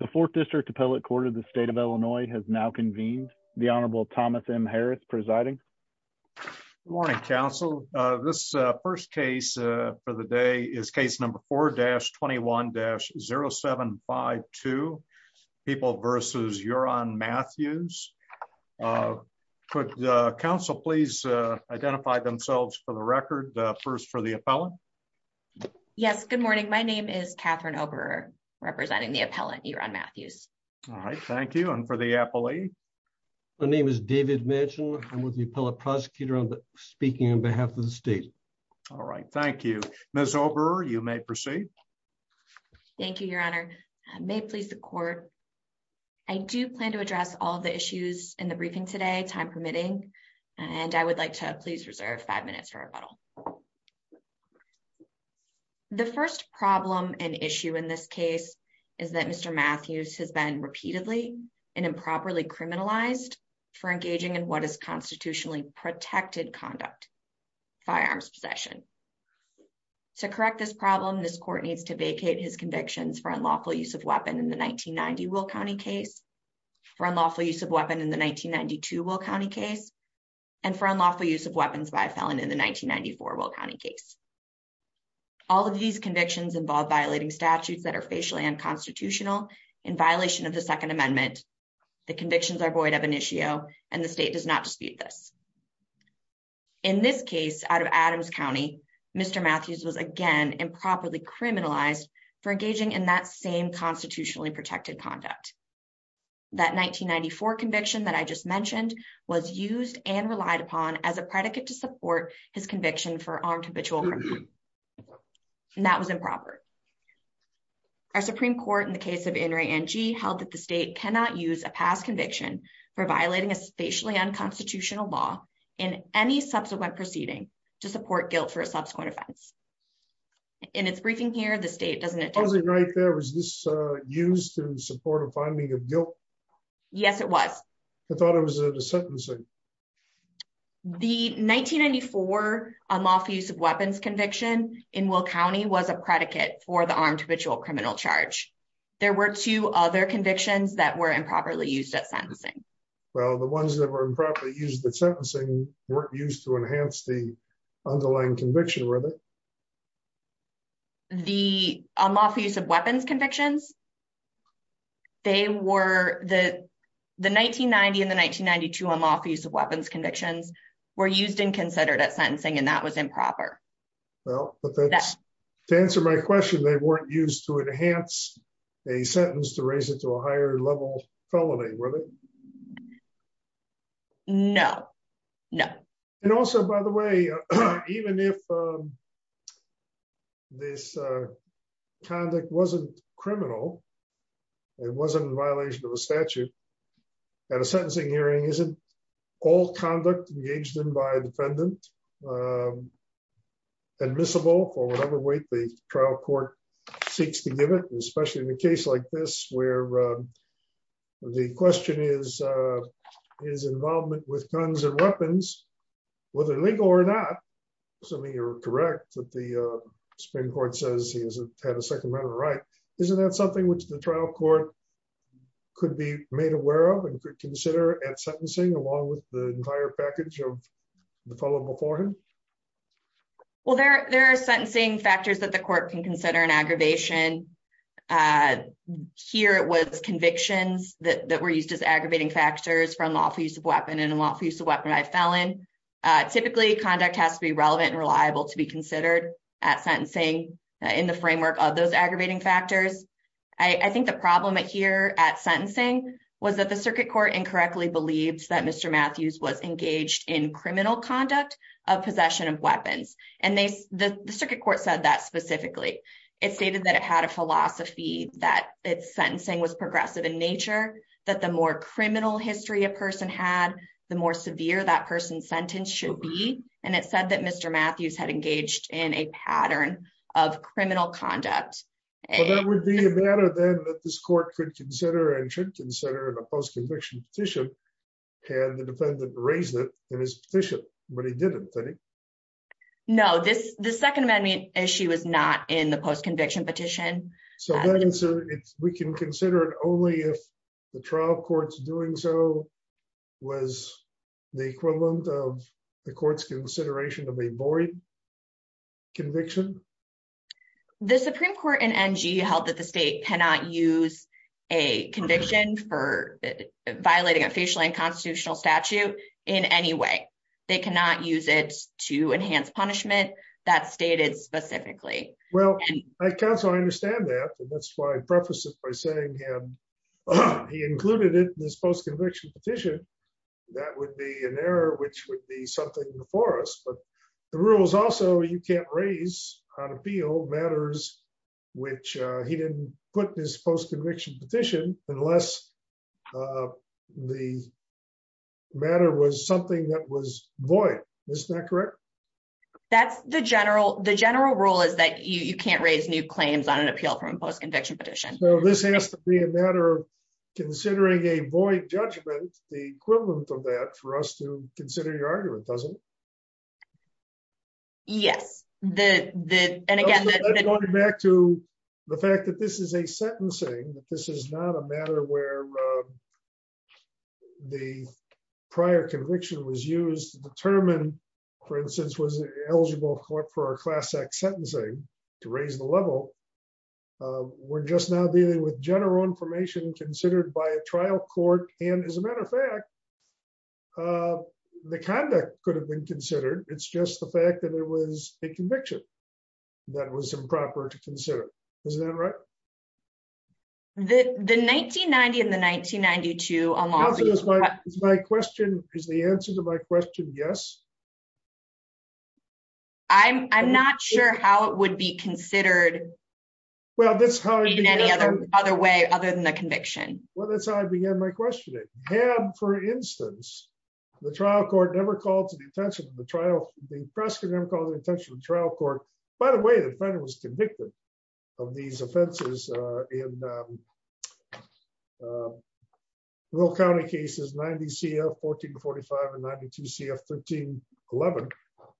The Fourth District Appellate Court of the State of Illinois has now convened. The Honorable Thomas M. Harris presiding. Good morning, counsel. This first case for the day is case number 4-21-0752, People v. Yuran Matthews. Could counsel please identify themselves for the record. First for the appellant. Yes, good morning. My name is Catherine Oberer, representing the appellant, Yuran Matthews. All right, thank you. And for the appellee? My name is David Mitchell. I'm with the appellate prosecutor speaking on behalf of the state. All right, thank you. Ms. Oberer, you may proceed. Thank you, Your Honor. May it please the court, I do plan to address all of the issues in the briefing today, time permitting, and I would like to please reserve five minutes for rebuttal. The first problem and issue in this case is that Mr. Matthews has been repeatedly and improperly criminalized for engaging in what is constitutionally protected conduct, firearms possession. To correct this problem, this court needs to vacate his convictions for unlawful use of weapon in the 1990 Will County case, for unlawful use of weapon in the 1992 Will County case, and for unlawful use of weapons by a felon in the 1994 Will County case. All of these convictions involve violating statutes that are facially unconstitutional in violation of the Second Amendment. The convictions are void of initio, and the state does not dispute this. In this case, out of Adams County, Mr. Matthews was again improperly criminalized for engaging in that same constitutionally protected conduct. That 1994 conviction that I just mentioned was used and relied upon as a predicate to support his conviction for armed habitual crime, and that was improper. Our Supreme Court in the case of In re Angie held that the state cannot use a past conviction for violating a spatially unconstitutional law in any subsequent proceeding to support guilt for a subsequent offense. In its briefing here the state doesn't it was a great there was this used to support a finding of guilt. Yes, it was. I thought it was a sentence. The 1994 unlawful use of weapons conviction in Will County was a predicate for the armed habitual criminal charge. There were two other convictions that were improperly used at sentencing. Well, the ones that were improperly used at sentencing weren't used to enhance the underlying conviction with it. The unlawful use of weapons convictions. They were the the 1990 in the 1992 unlawful use of weapons convictions were used and considered at sentencing and that was improper. Well, to answer my question they weren't used to enhance a sentence to raise it to a higher level felony with it. No, no. And also, by the way, even if this conduct wasn't criminal. It wasn't in violation of a statute at a sentencing hearing isn't all conduct engaged in by defendant admissible for whatever weight the trial court seeks to give it especially in a case like this where the question is, is involvement with guns and weapons. Whether legal or not. So you're correct that the Supreme Court says he hasn't had a second right. Isn't that something which the trial court could be made aware of and could consider at sentencing along with the entire package of the fellow before him. Well there there are sentencing factors that the court can consider an aggravation. Here, it was convictions that were used as aggravating factors from lawful use of weapon and unlawful use of weapon. I fell in typically conduct has to be relevant and reliable to be considered at sentencing in the framework of those aggravating factors. I think the problem here at sentencing was that the circuit court incorrectly believes that Mr Matthews was engaged in criminal conduct of possession of weapons. And they, the circuit court said that specifically, it stated that it had a philosophy that it's sentencing was progressive in nature, that the more criminal history a person had the more severe that person sentence should be, and it said that Mr Matthews had engaged in a pattern of criminal conduct. And that would be a matter that this court could consider and should consider the post conviction petition, and the defendant raised it in his position, but he didn't think. No, this, the Second Amendment issue is not in the post conviction petition. So we can consider it only if the trial courts doing so was the equivalent of the courts consideration of a boring conviction. The Supreme Court and NG held that the state cannot use a conviction for violating a facial and constitutional statute in any way. They cannot use it to enhance punishment that stated specifically. Well, I can't so I understand that. That's why I preface it by saying he included it in this post conviction petition, that would be an error which would be something for us but the rules also you can't raise on appeal matters, which he didn't put this post conviction petition, unless the matter was something that was void. This is not correct. That's the general the general rule is that you can't raise new claims on an appeal from post conviction petition. This has to be a matter of considering a void judgment, the equivalent of that for us to consider your argument doesn't. Yes, the, the, and again, going back to the fact that this is a sentencing, this is not a matter where the prior conviction was used to determine, for instance, was eligible for our class X sentencing to raise the level. We're just now dealing with general information considered by a trial court and as a matter of fact, the conduct could have been considered, it's just the fact that it was a conviction. That was improper to consider. Isn't that right. The 1990 in the 1992. My question is the answer to my question. Yes. I'm not sure how it would be considered. Well, that's how any other other way other than the conviction. Well, that's how I began my question. For instance, the trial court never called to the attention of the trial, the precedent called the attention of the trial court. By the way, the federal was convicted of these offenses in Will County cases 90 CF 1445 and 92 CF 1311,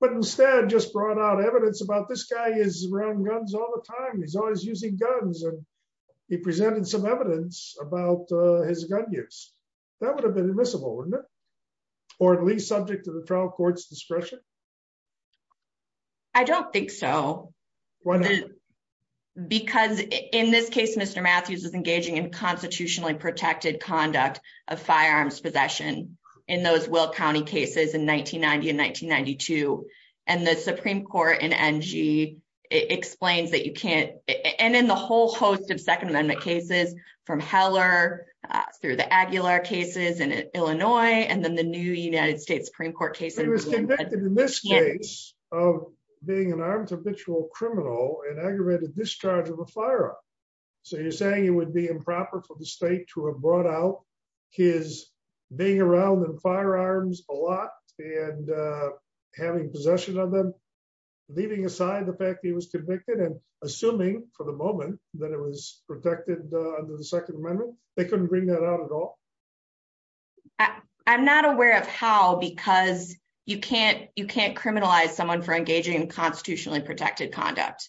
but instead just brought out evidence about this guy is around guns all the time he's always using guns and he presented some evidence about his gun use. That would have been admissible. Or at least subject to the trial courts discretion. I don't think so. Because, in this case, Mr. Matthews is engaging in constitutionally protected conduct of firearms possession in those Will County cases in 1990 and 1992, and the Supreme Court and NG explains that you can't, and then the whole host of Second Amendment cases from Heller through the Aguilar cases and Illinois and then the new United States Supreme Court case. In this case of being an armed habitual criminal and aggravated discharge of a firearm. So you're saying it would be improper for the state to have brought out his being around and firearms, a lot, and having possession of them, leaving aside the fact he was convicted and assuming for the moment that it was protected under the Second Amendment, they couldn't bring that out at all. I'm not aware of how because you can't you can't criminalize someone for engaging in constitutionally protected conduct.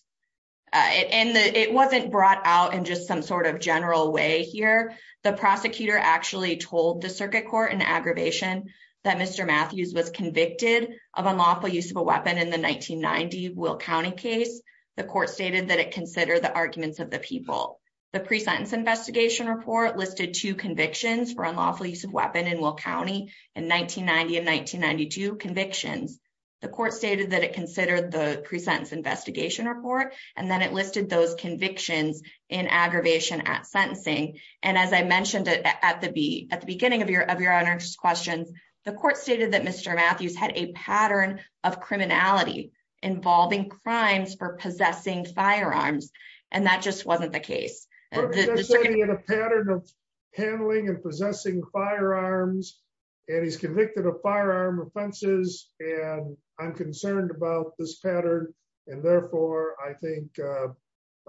And it wasn't brought out and just some sort of general way here. The prosecutor actually told the circuit court and aggravation that Mr. Matthews was convicted of unlawful use of a weapon in the 1990 Will County case. The court stated that it considered the arguments of the people, the pre sentence investigation report listed two convictions for unlawful use of weapon in Will County in 1990 and 1992 convictions. The court stated that it considered the pre sentence investigation report, and then it listed those convictions in aggravation at sentencing. And as I mentioned at the be at the beginning of your of your honors questions. The court stated that Mr. Matthews had a pattern of criminality, involving crimes for possessing firearms, and that just wasn't the case. Pattern of handling and possessing firearms, and he's convicted of firearm offenses, and I'm concerned about this pattern. And therefore, I think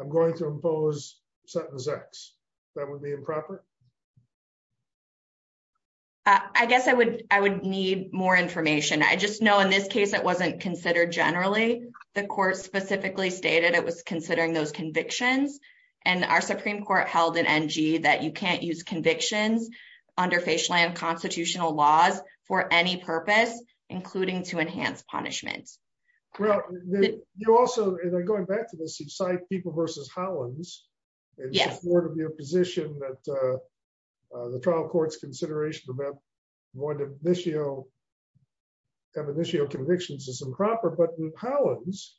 I'm going to impose sentence x, that would be improper. I guess I would, I would need more information I just know in this case it wasn't considered generally, the court specifically stated it was considering those convictions, and our Supreme Court held an NG that you can't use convictions under facial and constitutional laws for any purpose, including to enhance punishment. Well, you also going back to the same site people versus Hollins. Your position that the trial courts consideration of one of this year. initial convictions is improper but how is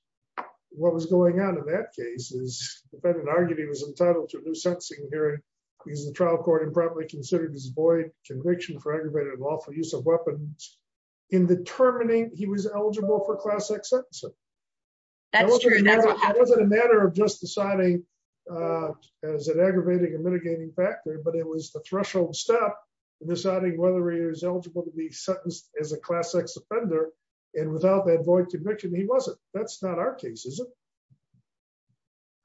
what was going on in that case is an argument he was entitled to a new sentencing hearing. He's the trial court and probably considered his boy conviction for aggravated lawful use of weapons in determining he was eligible That's true. It wasn't a matter of just deciding as an aggravating and mitigating factor but it was the threshold step, deciding whether he was eligible to be sentenced as a class X offender. And without that boy conviction he wasn't, that's not our cases.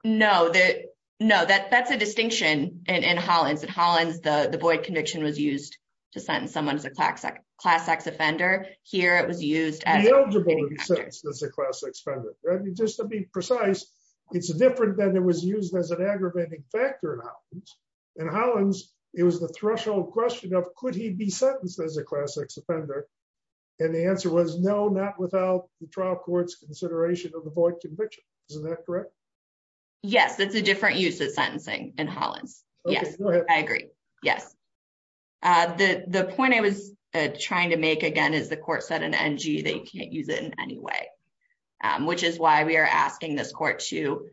No, that, no, that that's a distinction and Hollins and Hollins the the boy conviction was used to send someone to the class X, class X offender here it was used as a class expander, just to be precise, it's different than it was used as an aggravating In Hollins, it was the threshold question of could he be sentenced as a class X offender. And the answer was no, not without the trial courts consideration of the boy conviction. Isn't that correct. Yes, it's a different use of sentencing and Hollins. Yes, I agree. Yes. The point I was trying to make again is the court said an NG they can't use it in any way, which is why we are asking this court to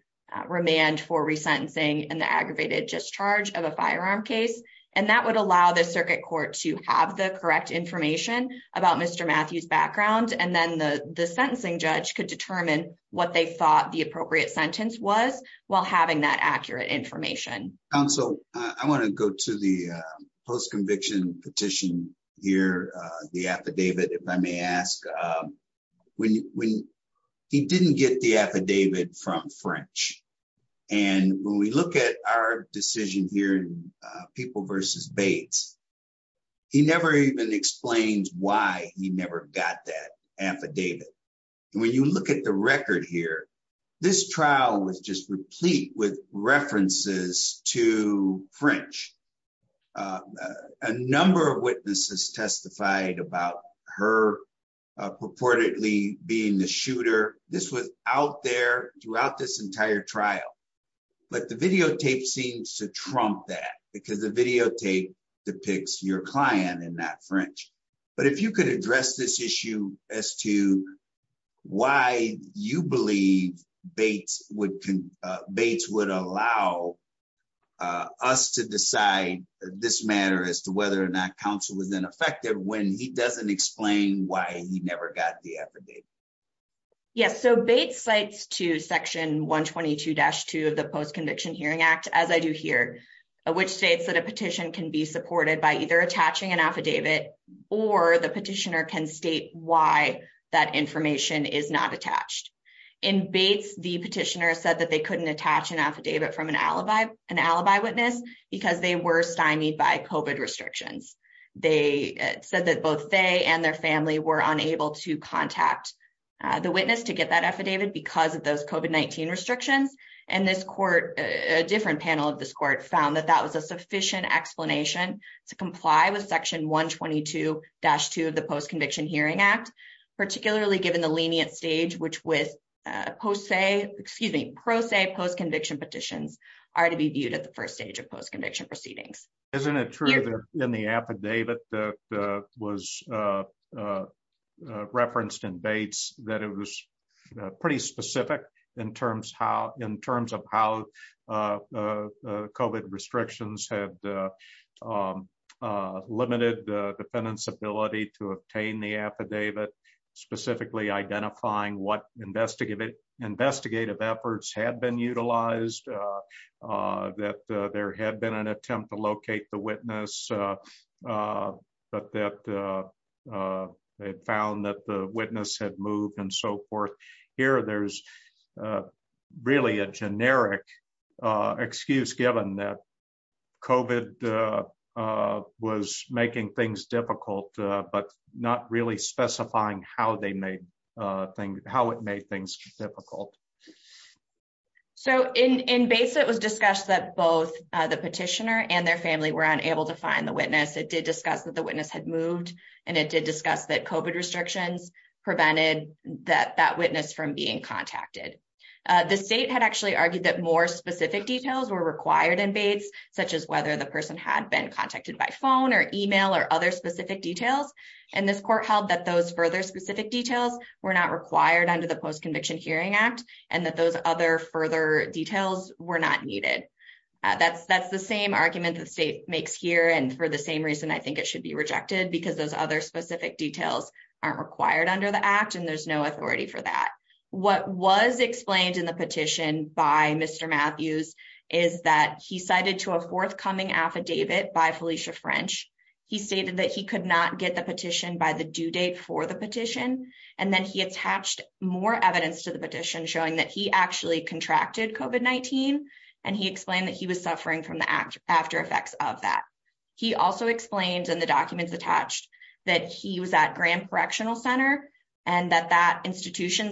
remand for resentencing and the aggravated discharge of a firearm case, and that would allow the circuit court to have the correct information about Mr Matthews background and then the the sentencing judge could determine what they thought the appropriate sentence was while having that accurate information. So, I want to go to the post conviction petition here, the affidavit, if I may ask when he didn't get the affidavit from French. And when we look at our decision here and people versus Bates. He never even explains why he never got that affidavit. And when you look at the record here. This trial was just replete with references to French. A number of witnesses testified about her purportedly being the shooter. This was out there throughout this entire trial. But the videotape seems to trump that because the videotape depicts your client and that French, but if you could address this issue as to why you believe Bates would Bates would allow us to decide this matter as to whether or not counsel was ineffective when he doesn't explain why he never got the affidavit. Yes, so Bates sites to section 122 dash to the post conviction Hearing Act, as I do here, which states that a petition can be supported by either attaching an affidavit, or the petitioner can state why that information is not attached in Bates the petitioner said that they couldn't attach an affidavit from an alibi, an alibi witness, because they were stymied by COVID restrictions. They said that both they and their family were unable to contact the witness to get that affidavit because of those COVID-19 restrictions, and this court, a different panel of this court found that that was a sufficient explanation to comply with section 122 dash to the post conviction Hearing Act, particularly given the lenient stage which was post say, excuse me, pro se post conviction petitions are to be viewed at the first stage of post conviction proceedings. Isn't it true that in the affidavit that was referenced in Bates, that it was pretty specific in terms how in terms of how COVID restrictions have limited the defendants ability to obtain the affidavit, specifically identifying what investigative investigative efforts had been utilized, that there had been an attempt to locate the witness, but that they found that the witness had moved and so forth. And here there's really a generic excuse given that COVID was making things difficult, but not really specifying how they made things how it made things difficult. So in Bates, it was discussed that both the petitioner and their family were unable to find the witness, it did discuss that the witness had moved, and it did discuss that COVID restrictions prevented that that witness from being contacted. The state had actually argued that more specific details were required in Bates, such as whether the person had been contacted by phone or email or other specific details. And this court held that those further specific details were not required under the post conviction Hearing Act, and that those other further details were not needed. That's that's the same argument that state makes here and for the same reason I think it should be rejected because those other specific details aren't required under the act and there's no authority for that. What was explained in the petition by Mr. Matthews, is that he cited to a forthcoming affidavit by Felicia French, he stated that he could not get the petition by the due date for the petition, and then he attached more evidence to the petition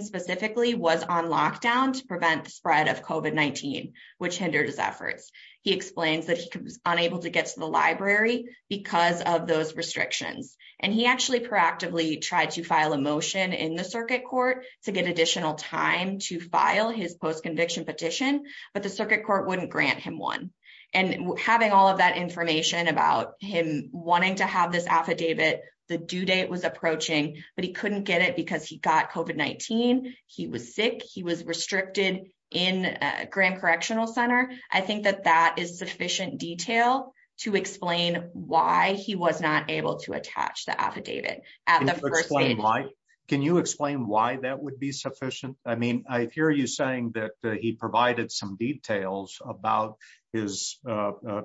specifically was on lockdown to prevent the spread of COVID-19, which hindered his efforts. He explains that he was unable to get to the library, because of those restrictions, and he actually proactively tried to file a motion in the circuit court to get additional time to file his post conviction petition, but the circuit court wouldn't grant him one, and having all of that information about him wanting to have this affidavit, the due date was approaching, but he couldn't get it because he got COVID-19, he was sick, he was restricted in detail to explain why he was not able to attach the affidavit. Can you explain why that would be sufficient? I mean, I hear you saying that he provided some details about his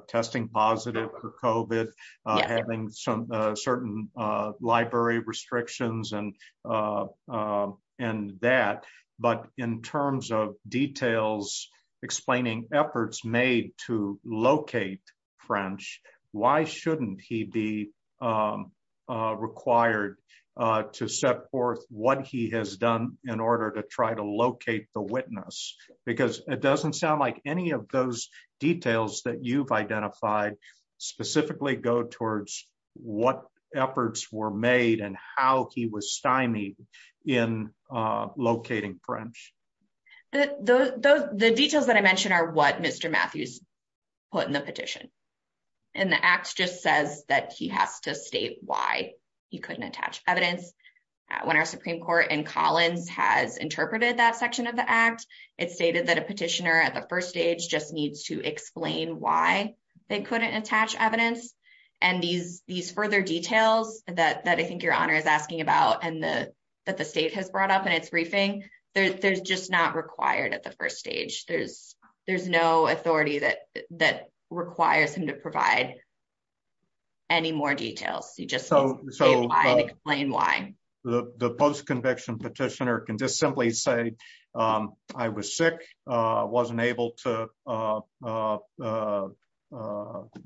testing positive for COVID, having some certain library restrictions and that, but in terms of details, explaining efforts made to locate French, why shouldn't he be required to set forth what he has done in order to try to locate the witness? Because it doesn't sound like any of those details that you've identified specifically go towards what efforts were made and how he was stymied in locating French. The details that I mentioned are what Mr. Matthews put in the petition. And the act just says that he has to state why he couldn't attach evidence. When our Supreme Court in Collins has interpreted that section of the act, it stated that a petitioner at the first stage just needs to explain why they couldn't attach evidence. And these further details that I think your Honor is asking about and that the state has brought up in its briefing, they're just not required at the first stage. There's no authority that requires him to provide any more details. You just need to explain why. The post-conviction petitioner can just simply say, I was sick, wasn't able to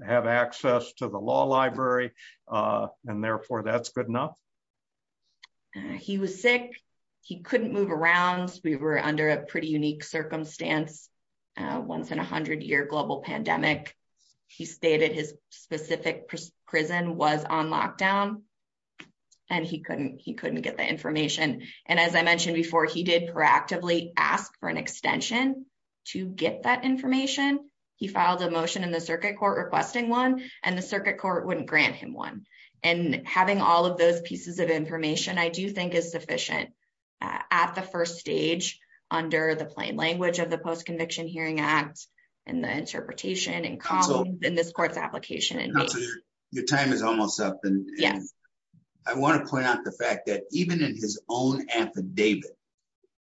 have access to the law library, and therefore that's good enough. He was sick. He couldn't move around. We were under a pretty unique circumstance, once in a hundred year global pandemic. He stated his specific prison was on lockdown. And he couldn't get the information. And as I mentioned before, he did proactively ask for an extension to get that information. He filed a motion in the circuit court requesting one, and the circuit court wouldn't grant him one. And having all of those pieces of information I do think is sufficient at the first stage under the plain language of the Post-Conviction Hearing Act and the interpretation in this court's application. Your time is almost up. I want to point out the fact that even in his own affidavit,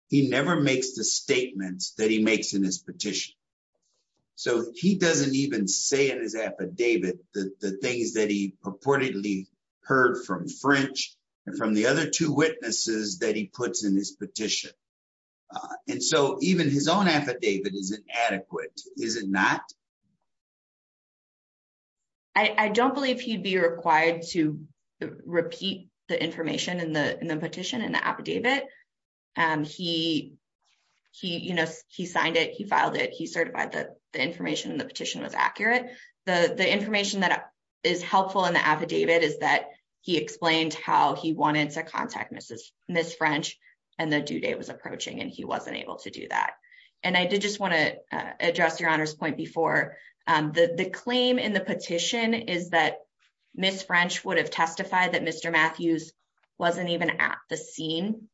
he never makes the statements that he makes in his petition. So he doesn't even say in his affidavit the things that he purportedly heard from French and from the other two witnesses that he puts in his petition. And so even his own affidavit isn't adequate, is it not? I don't believe he'd be required to repeat the information in the petition and the affidavit. He signed it. He filed it. He certified the information in the petition was accurate. The information that is helpful in the affidavit is that he explained how he wanted to contact Ms. French, and the due date was approaching, and he wasn't able to do that. And I did just want to address Your Honor's point before. The claim in the petition is that Ms. French would have testified that Mr. Matthews wasn't even at the scene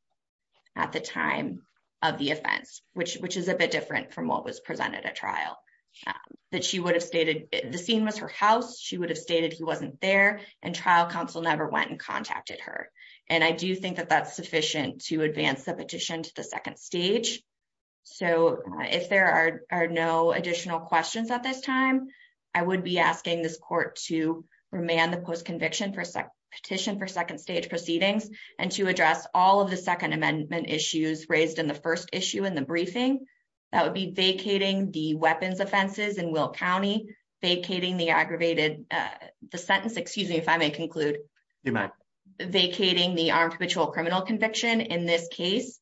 at the time of the offense, which is a bit different from what was presented at trial. The scene was her house. She would have stated he wasn't there, and trial counsel never went and contacted her. And I do think that that's sufficient to advance the petition to the second stage. So if there are no additional questions at this time, I would be asking this court to remand the post-conviction petition for second stage proceedings and to address all of the Second Amendment issues raised in the first issue in the briefing. That would be vacating the weapons offenses in Will County, vacating the aggravated, the sentence, excuse me if I may conclude, vacating the armed perpetual criminal conviction in this case,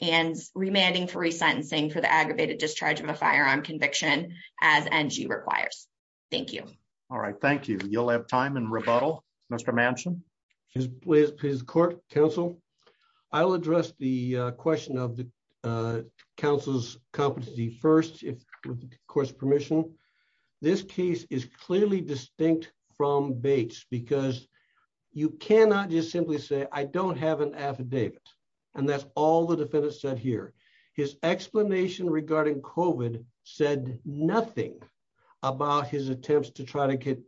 and remanding for resentencing for the aggravated discharge of a firearm conviction as NG requires. Thank you. All right, thank you. You'll have time in rebuttal. Mr. Manchin. Please court, counsel. I'll address the question of the counsel's competency first, with the court's permission. This case is clearly distinct from Bates because you cannot just simply say, I don't have an affidavit. And that's all the defendant said here. His explanation regarding COVID said nothing about his attempts to try to get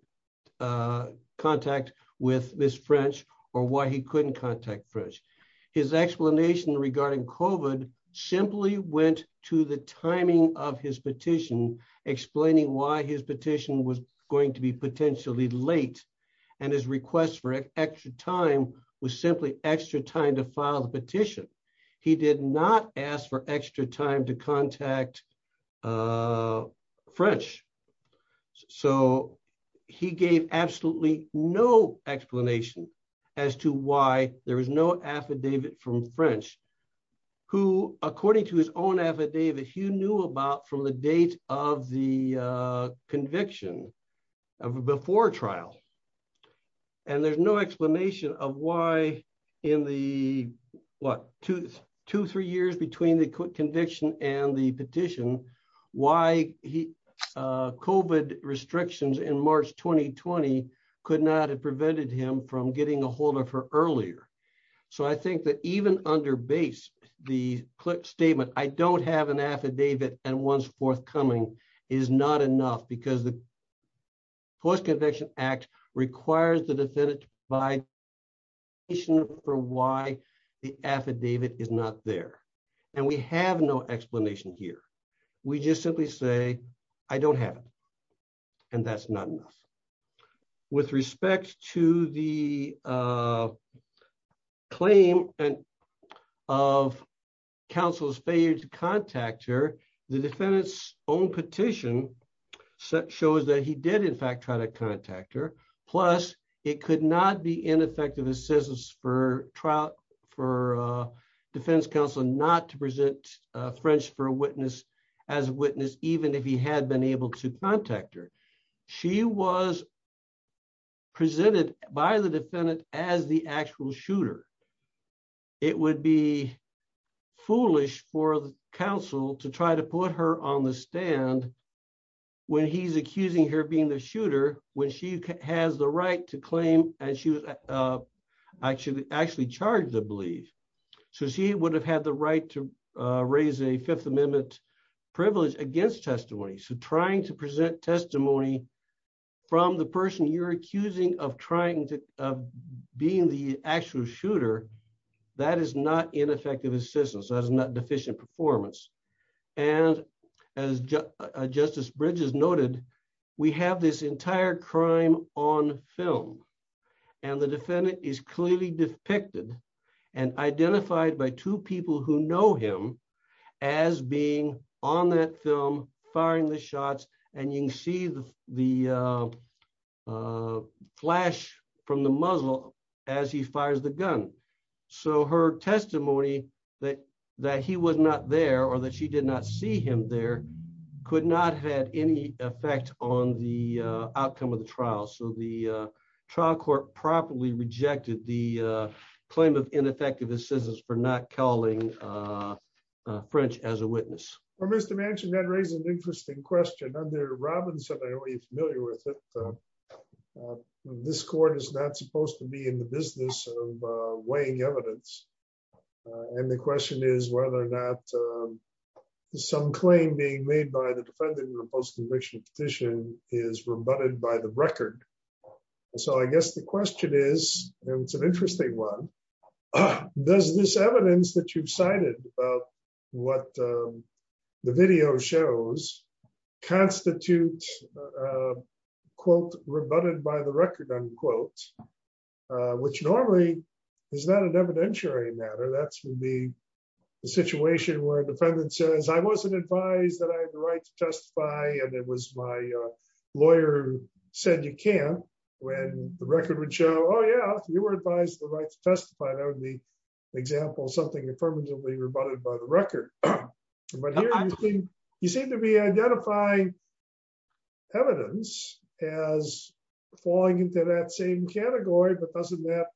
contact with Miss French, or why he couldn't contact French. His explanation regarding COVID simply went to the timing of his petition, explaining why his petition was going to be potentially late, and his request for extra time was simply extra time to file the petition. He did not ask for extra time to contact French. So, he gave absolutely no explanation as to why there was no affidavit from French, who, according to his own affidavit he knew about from the date of the conviction of before trial. And there's no explanation of why in the, what, two, two, three years between the conviction and the petition, why he COVID restrictions in March 2020 could not have prevented him from getting ahold of her earlier. So I think that even under Bates, the statement, I don't have an affidavit, and one's forthcoming is not enough because the post-conviction act requires the defendant to provide explanation for why the affidavit is not there. And we have no explanation here. We just simply say, I don't have. And that's not enough. With respect to the claim of counsel's failure to contact her, the defendant's own petition shows that he did in fact try to contact her. Plus, it could not be ineffective assistance for trial for defense counsel not to present French for a witness as a witness, even if he had been able to contact her. She was presented by the defendant as the actual shooter. It would be foolish for the council to try to put her on the stand. And when he's accusing her being the shooter, when she has the right to claim, and she was actually actually charged the belief. So she would have had the right to raise a Fifth Amendment privilege against testimony so trying to present testimony from the person you're accusing of trying to being the actual shooter. That is not ineffective assistance that is not deficient performance. And as Justice Bridges noted, we have this entire crime on film. And the defendant is clearly depicted and identified by two people who know him as being on that film firing the shots, and you can see the, the flash from the muzzle, as he fires the gun. So her testimony that that he was not there or that she did not see him there could not have any effect on the outcome of the trial so the trial court properly rejected the claim of ineffective assistance for not calling French as a witness, or Mr And the question is whether or not some claim being made by the defendant in the post conviction petition is rebutted by the record. So I guess the question is, it's an interesting one. Does this evidence that you've cited, what the video shows constitute quote rebutted by the record unquote, which normally is not an evidentiary matter that's the situation where the defendant says I wasn't advised that I have the right to testify and it was my lawyer said you can, when the record would show Oh yeah, you were advised the right to testify that would be example something affirmatively rebutted by the record. But you seem to be identifying evidence as falling into that same category but doesn't that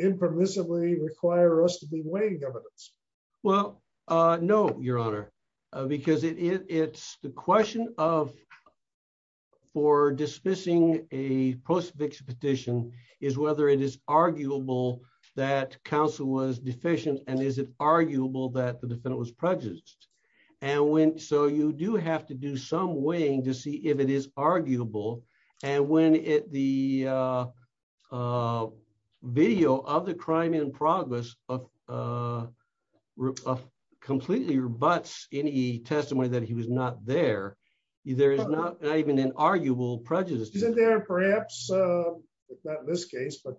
impermissibly require us to be weighing evidence. Well, no, Your Honor, because it's the question of for dismissing a post fiction petition is whether it is arguable that counsel was deficient and is it arguable that the defendant was prejudice. And when so you do have to do some weighing to see if it is arguable. And when it the video of the crime in progress of completely rebutts any testimony that he was not there. There is not even an arguable prejudice isn't there perhaps this case but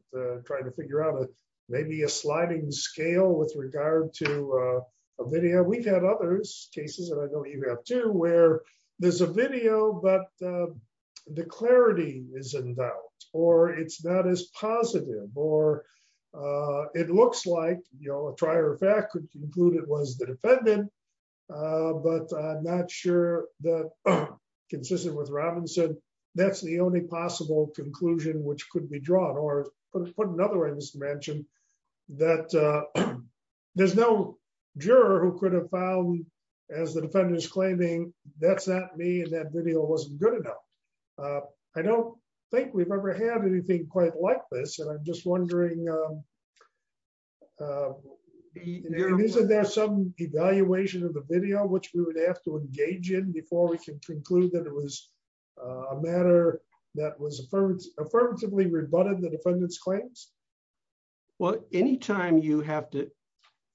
trying to figure out maybe a sliding scale with regard to a video we've had others cases and I know you have to where there's a video but the clarity is in doubt, or it's not as positive It looks like, you know, a trier of fact could conclude it was the defendant, but not sure that consistent with Robinson. That's the only possible conclusion which could be drawn or put another way to mention that there's no juror who could have found as the defenders claiming that's not me and that video wasn't good enough. I don't think we've ever had anything quite like this and I'm just wondering, isn't there some evaluation of the video which we would have to engage in before we can conclude that it was a matter that was affirmed affirmatively rebutted the defendants claims. Well, anytime you have to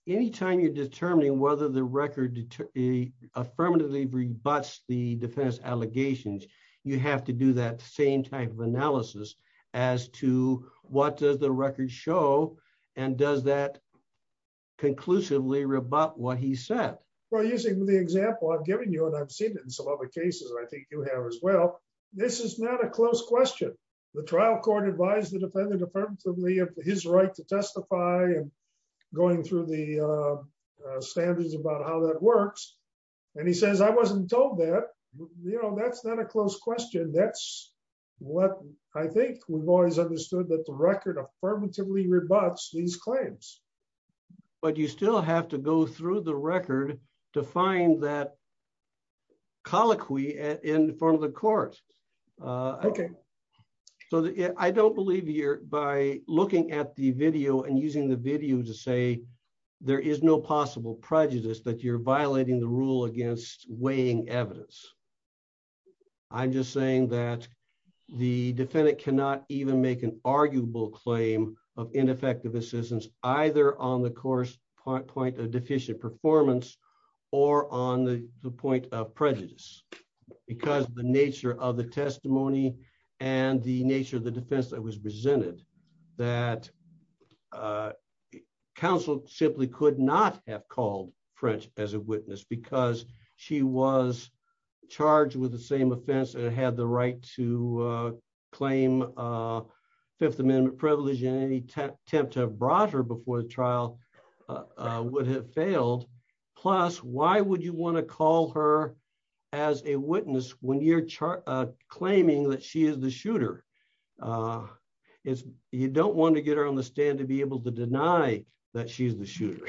anytime you're determining whether the record to a affirmatively rebutts the defense allegations, you have to do that same type of analysis as to what does the record show, and does that conclusively rebut what he said, Well, using the example I've given you and I've seen it in some other cases I think you have as well. This is not a close question. The trial court advised the defendant affirmatively of his right to testify and going through the standards about how that works. And he says I wasn't told that, you know, that's not a close question that's what I think we've always understood that the record affirmatively rebuts these claims. But you still have to go through the record to find that colloquy in front of the court. Okay, so I don't believe here by looking at the video and using the video to say there is no possible prejudice that you're violating the rule against weighing evidence. I'm just saying that the defendant cannot even make an arguable claim of ineffective assistance, either on the course point point a deficient performance or on the point of prejudice, because the nature of the testimony and the nature of the defense that counsel simply could not have called French as a witness because she was charged with the same offense and had the right to claim. Fifth Amendment privilege in any attempt to have brought her before the trial would have failed. Plus, why would you want to call her as a witness when you're claiming that she is the shooter is, you don't want to get her on the stand to be able to deny that she's the shooter.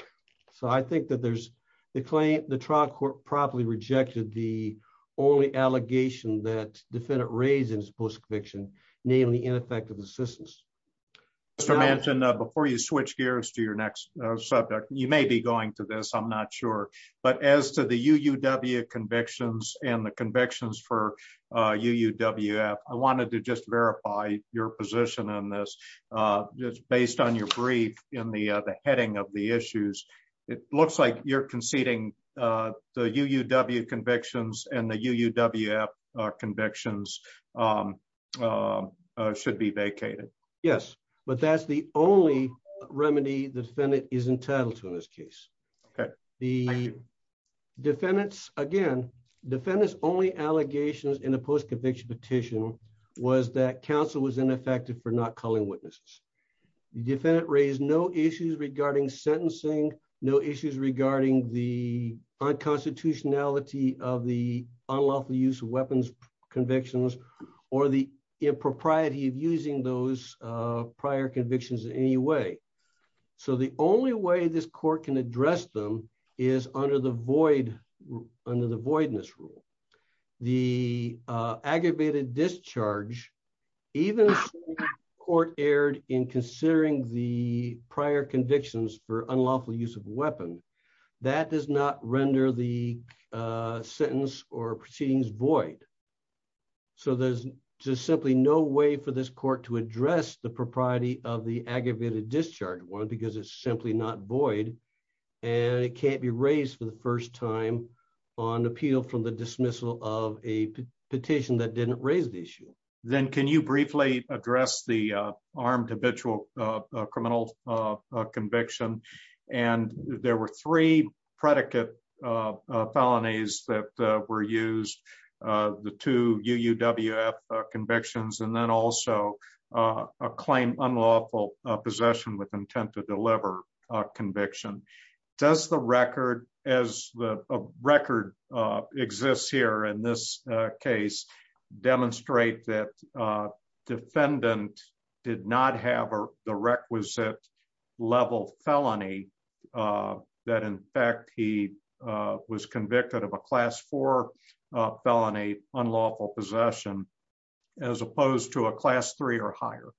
So I think that there's the claim, the trial court properly rejected the only allegation that defendant raisins post fiction, namely ineffective assistance. So mentioned before you switch gears to your next subject, you may be going to this I'm not sure, but as to the UUW convictions and the convictions for UUW I wanted to just verify your position on this. Just based on your brief in the heading of the issues. It looks like you're conceding the UUW convictions and the UUW convictions should be vacated. Yes, but that's the only remedy the defendant is entitled to in this case. The defendants, again, defendants only allegations in a post conviction petition was that counsel was ineffective for not calling witnesses defendant raise no issues regarding sentencing, no issues regarding the unconstitutionality of the is under the void under the voidness rule, the aggravated discharge, even court aired in considering the prior convictions for unlawful use of weapon that does not render the sentence or proceedings void. So there's just simply no way for this court to address the propriety of the aggravated discharge one because it's simply not void, and it can't be raised for the first time on appeal from the dismissal of a petition that didn't raise the issue, then can you briefly address the armed habitual criminal conviction. And there were three predicate felonies that were used the two UUW convictions and then also a claim unlawful possession with intent to deliver conviction. Does the record as the record exists here in this case, demonstrate that defendant did not have the requisite level felony that in fact he was convicted of a class for felony unlawful possession, as opposed to a class three or higher.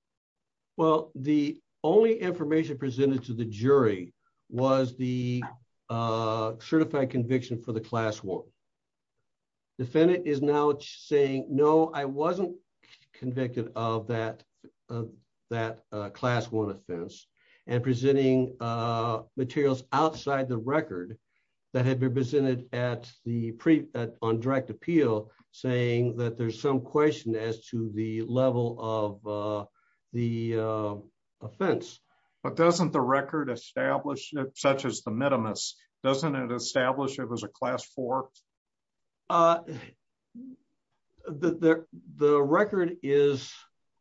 Well, the only information presented to the jury was the certified conviction for the class one defendant is now saying no I wasn't convicted of that. That class one offense and presenting materials outside the record that had been presented at the pre on direct appeal, saying that there's some question as to the level of the offense, but doesn't the record established, such as the minimus doesn't establish it was a class for the record is,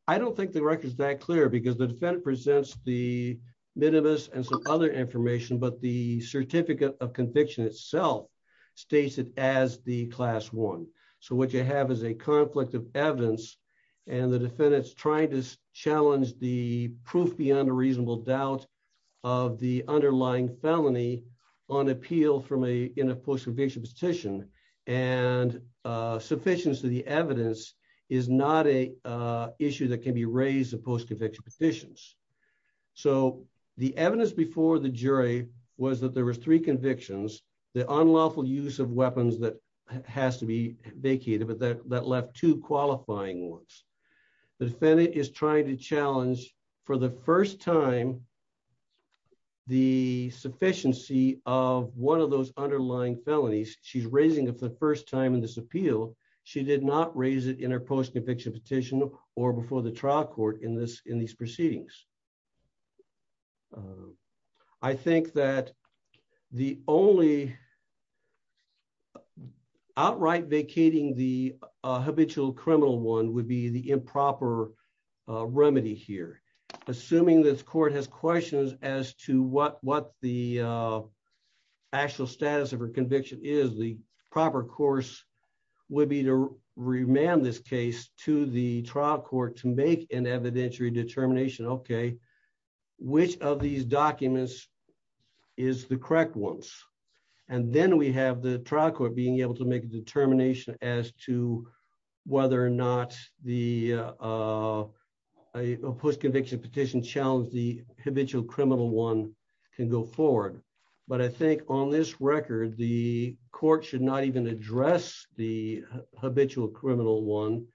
I don't think the record is that clear because the defendant presents the minimus and some other information but the certificate of conviction itself states it as the class one. So what you have is a conflict of evidence, and the defendants trying to challenge the proof beyond a reasonable doubt of the underlying felony on appeal from a in a post conviction petition and sufficient to the evidence is not a issue that can be raised a post conviction petitions. So, the evidence before the jury was that there was three convictions, the unlawful use of weapons that has to be vacated but that that left to qualifying once the defendant is trying to challenge for the first time. The sufficiency of one of those underlying felonies, she's raising it for the first time in this appeal. She did not raise it in her post conviction petition or before the trial court in this in these proceedings. I think that the only outright vacating the habitual criminal one would be the improper remedy here, assuming this court has questions as to what what the actual status of her conviction is the proper course would be to remand this case to the trial court to make an evidentiary determination okay, which of these documents is the correct ones. And then we have the trial court being able to make a determination as to whether or not the post conviction petition challenge the habitual criminal one can go forward. But I think on this record the court should not even address the habitual criminal one,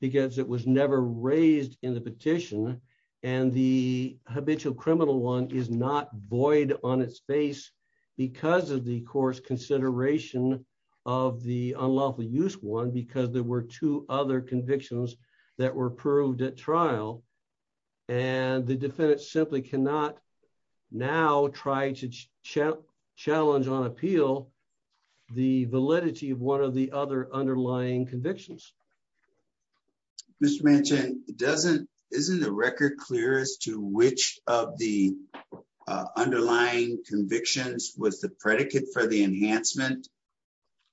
because it was never raised in the petition, and the habitual criminal one is not void on its face, because of the course consideration of the unlawful use one because there were two other convictions that were approved at trial. And the defendant simply cannot now try to challenge on appeal. The validity of one of the other underlying convictions. This mention doesn't isn't a record clear as to which of the underlying convictions was the predicate for the enhancement.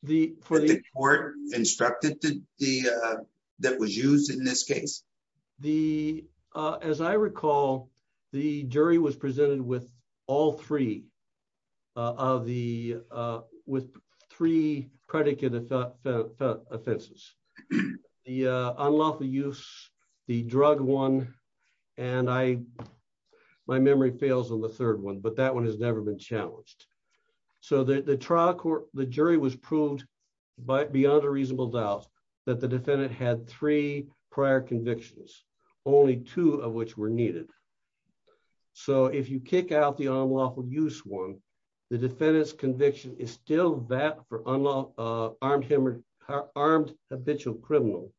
The court instructed to the that was used in this case, the, as I recall, the jury was presented with all three of the with three predicate offenses. The unlawful use the drug one. And I, my memory fails on the third one but that one has never been challenged. So the trial court, the jury was proved by beyond a reasonable doubt that the defendant had three prior convictions, only two of which were needed. So if you kick out the unlawful use one. The defendants conviction is still that for unlawful armed him or armed habitual criminal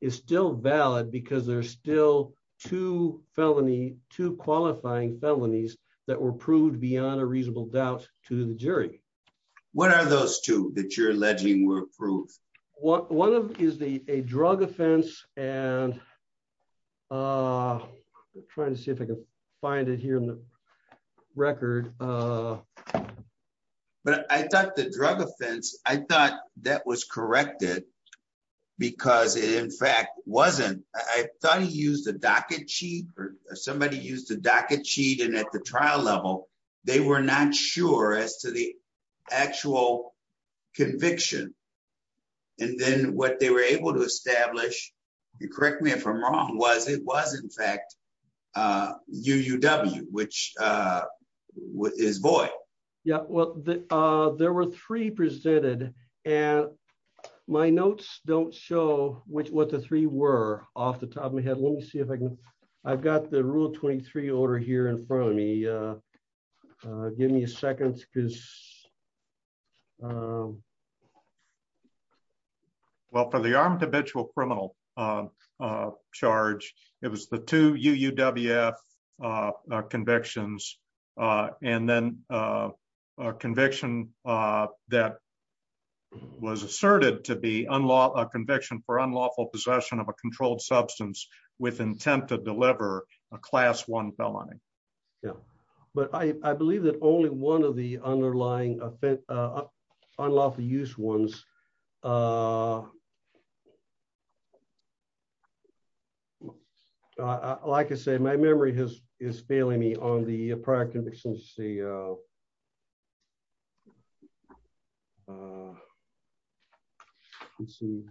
is still valid because there's still to felony to qualifying felonies that were proved beyond a reasonable doubt to the jury. What are those two that you're alleging were approved. What one is the a drug offense, and I'm trying to see if I can find it here in the record. But I thought the drug offense, I thought that was corrected, because it in fact wasn't. I thought he used a docket cheap or somebody used a docket sheet and at the trial level, they were not sure as to the actual conviction. And then what they were able to establish. You correct me if I'm wrong was it was in fact you w which is boy. Yeah, well, there were three presented, and my notes, don't show which what the three were off the top of my head, let me see if I can. I've got the rule 23 order here in front of me. Give me a second. Well for the armed habitual criminal charge. It was the two UWF convictions, and then conviction that was asserted to be unlocked a conviction for unlawful possession of a controlled substance with intent to deliver a class one felony. Yeah, but I believe that only one of the underlying offense unlawful use ones. Uh, like I said my memory has is failing me on the practice and CEO. See.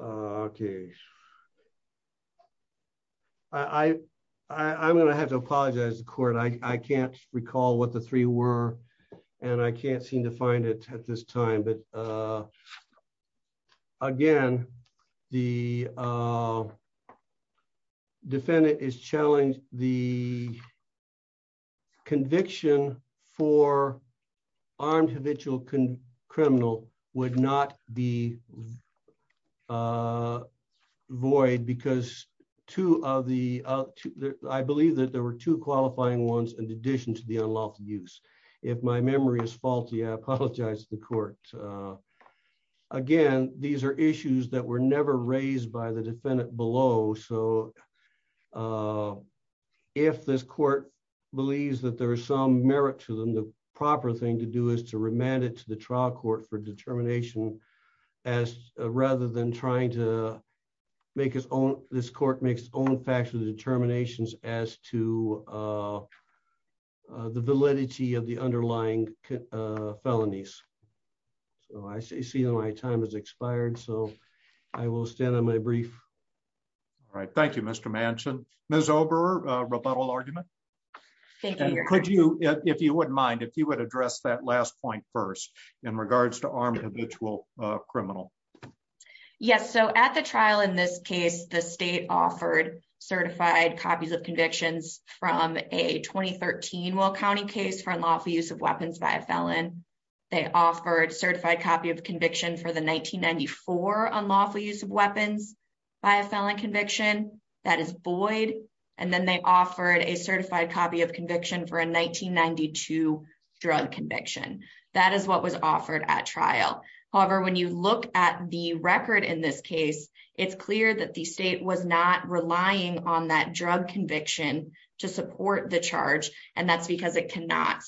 Okay. Okay. I, I'm going to have to apologize court I can't recall what the three were, and I can't seem to find it at this time but again, the defendant is challenged, the conviction for armed habitual criminal would not be void because two of the, I believe that there were two qualifying ones in addition to the unlawful use. If my memory is faulty I apologize to the court. Again, these are issues that were never raised by the defendant below so if this court believes that there is some merit to them the proper thing to do is to remand it to the trial court for determination, as rather than trying to make his own. This court makes own factual determinations, as to the validity of the underlying felonies. So I see my time has expired so I will stand on my brief. Right. Thank you, Mr mansion, Miss over rebuttal argument. Thank you. Could you, if you wouldn't mind if you would address that last point first in regards to arm habitual criminal. Yes, so at the trial in this case the state offered certified copies of convictions from a 2013 will county case for unlawful use of weapons by a felon. They offered certified copy of conviction for the 1994 unlawful use of weapons by a felon conviction. That is Boyd, and then they offered a certified copy of conviction for a 1992 drug conviction. That is what was offered at trial. However, when you look at the record in this case, it's clear that the state was not relying on that drug conviction to support the charge, and that's because it cannot.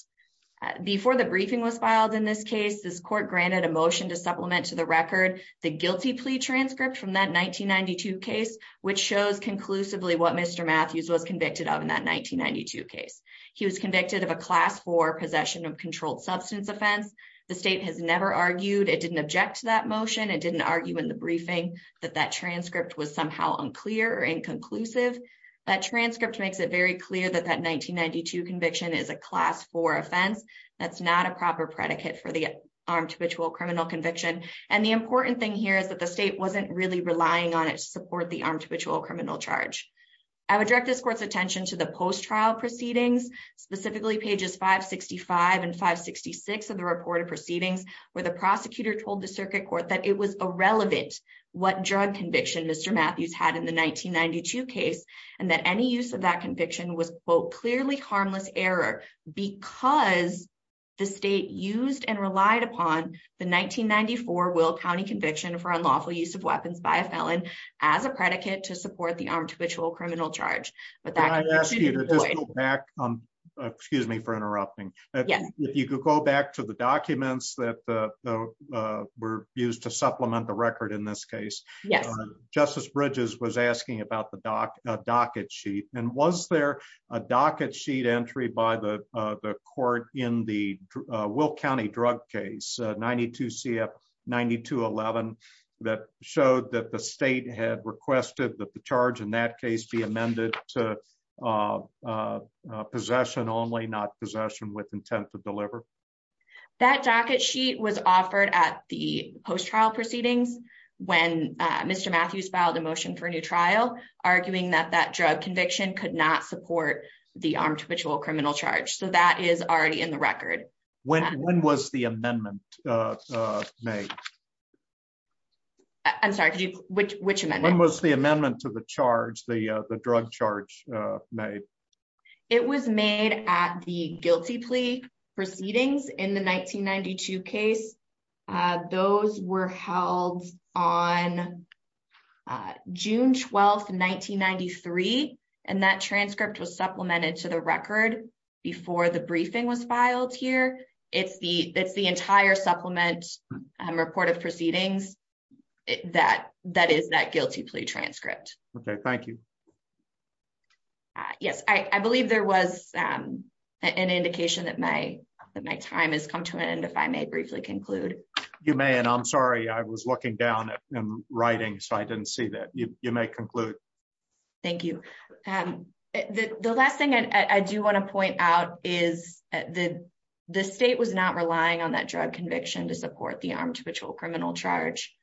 Before the briefing was filed in this case this court granted emotion to supplement to the record, the guilty plea transcript from that 1992 case, which shows conclusively what Mr Matthews was convicted of in that 1992 case, he was convicted of a class for possession of controlled substance offense. The state has never argued it didn't object to that motion it didn't argue in the briefing that that transcript was somehow unclear and conclusive that transcript makes it very clear that that 1992 conviction is a class for offense. That's not a proper predicate for the arm to ritual criminal conviction, and the important thing here is that the state wasn't really relying on it support the arm to ritual criminal charge. I would direct this court's attention to the post trial proceedings, specifically pages 565 and 566 of the report of proceedings, where the prosecutor told the circuit court that it was irrelevant. conviction Mr Matthews had in the 1992 case, and that any use of that conviction was both clearly harmless error, because the state used and relied upon the 1994 will county conviction for unlawful use of weapons by a felon as a predicate to support the arm to ritual criminal charge, but that back on. Excuse me for interrupting. Yeah, you could go back to the documents that were used to supplement the record in this case. Yes, Justice bridges was asking about the doc docket sheet, and was there a docket sheet entry by the court in the will county drug case 92 CF 92 11 that showed that the state had requested that the charge in that case be amended to possession only not possession with intent to deliver that docket sheet was offered at the post trial proceedings. When Mr Matthews filed a motion for a new trial, arguing that that drug conviction could not support the arm to ritual criminal charge so that is already in the record. When, when was the amendment. I'm sorry, which which amendment was the amendment to the charge the drug charge made. It was made at the guilty plea proceedings in the 1992 case. Those were held on June 12 1993, and that transcript was supplemented to the record before the briefing was filed here. It's the, it's the entire supplement report of proceedings that that is that guilty plea transcript. Okay, thank you. Yes, I believe there was an indication that my that my time has come to an end if I may briefly conclude, you may and I'm sorry I was looking down at writing so I didn't see that you may conclude. Thank you. The last thing I do want to point out is that the state was not relying on that drug conviction to support the arm to ritual criminal charge.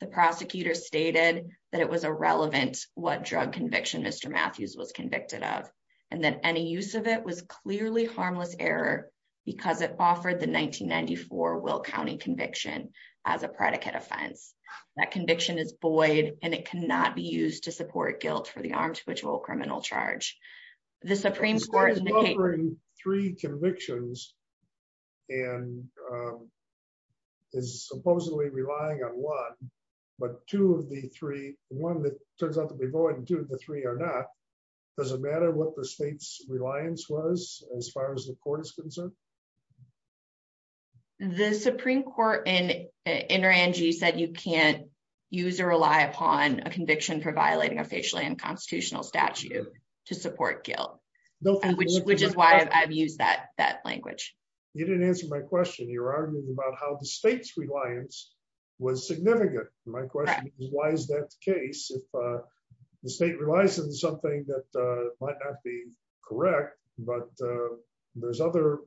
The prosecutor stated that it was irrelevant, what drug conviction Mr Matthews was convicted of, and then any use of it was clearly harmless error, because it offered the 1994 will county conviction as a predicate offense. That conviction is buoyed, and it cannot be used to support guilt for the arm to ritual criminal charge. The Supreme Court three convictions, and is supposedly relying on one, but two of the three, one that turns out to be going to the three or not. Does it matter what the state's reliance was, as far as the court is concerned. The Supreme Court and energy said you can't use or rely upon a conviction for violating a facial and constitutional statute to support guilt, which is why I've used that that language. You didn't answer my question you're arguing about how the state's reliance was significant. My question is why is that the case if the state relies on something that might not be correct, but there's other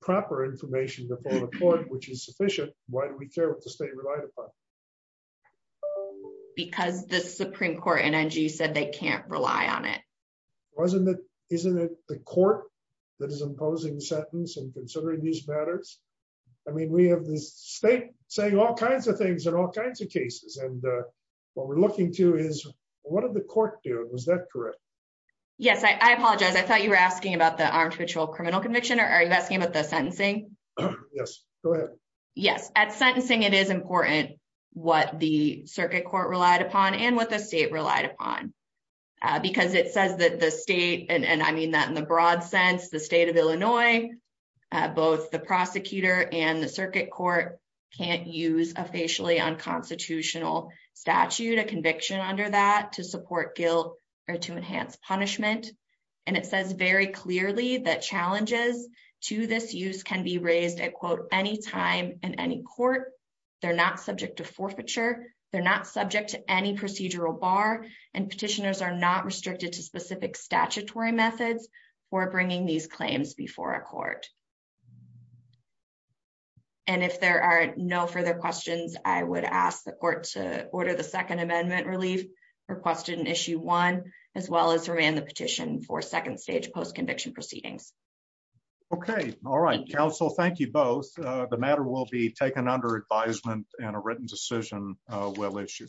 proper information before the court, which is sufficient. Why do we care what the state relied upon. Because the Supreme Court energy said they can't rely on it. Wasn't that isn't it the court that is imposing sentence and considering these matters. I mean we have this state saying all kinds of things and all kinds of cases and what we're looking to is, what are the court do was that correct. Yes, I apologize I thought you were asking about the arm to ritual criminal conviction or are you asking about the sentencing. Yes, at sentencing it is important, what the circuit court relied upon and what the state relied upon, because it says that the state and I mean that in the broad sense the state of Illinois, both the prosecutor and the circuit court can't use a facially unconstitutional statute a conviction under that to support guilt, or to enhance punishment. And it says very clearly that challenges to this use can be raised at quote any time, and any court. They're not subject to forfeiture, they're not subject to any procedural bar and petitioners are not restricted to specific statutory methods for bringing these claims before a court. And if there are no further questions, I would ask the court to order the Second Amendment relief requested an issue one, as well as around the petition for second stage post conviction proceedings. Okay. All right, so thank you both. The matter will be taken under advisement, and a written decision will issue.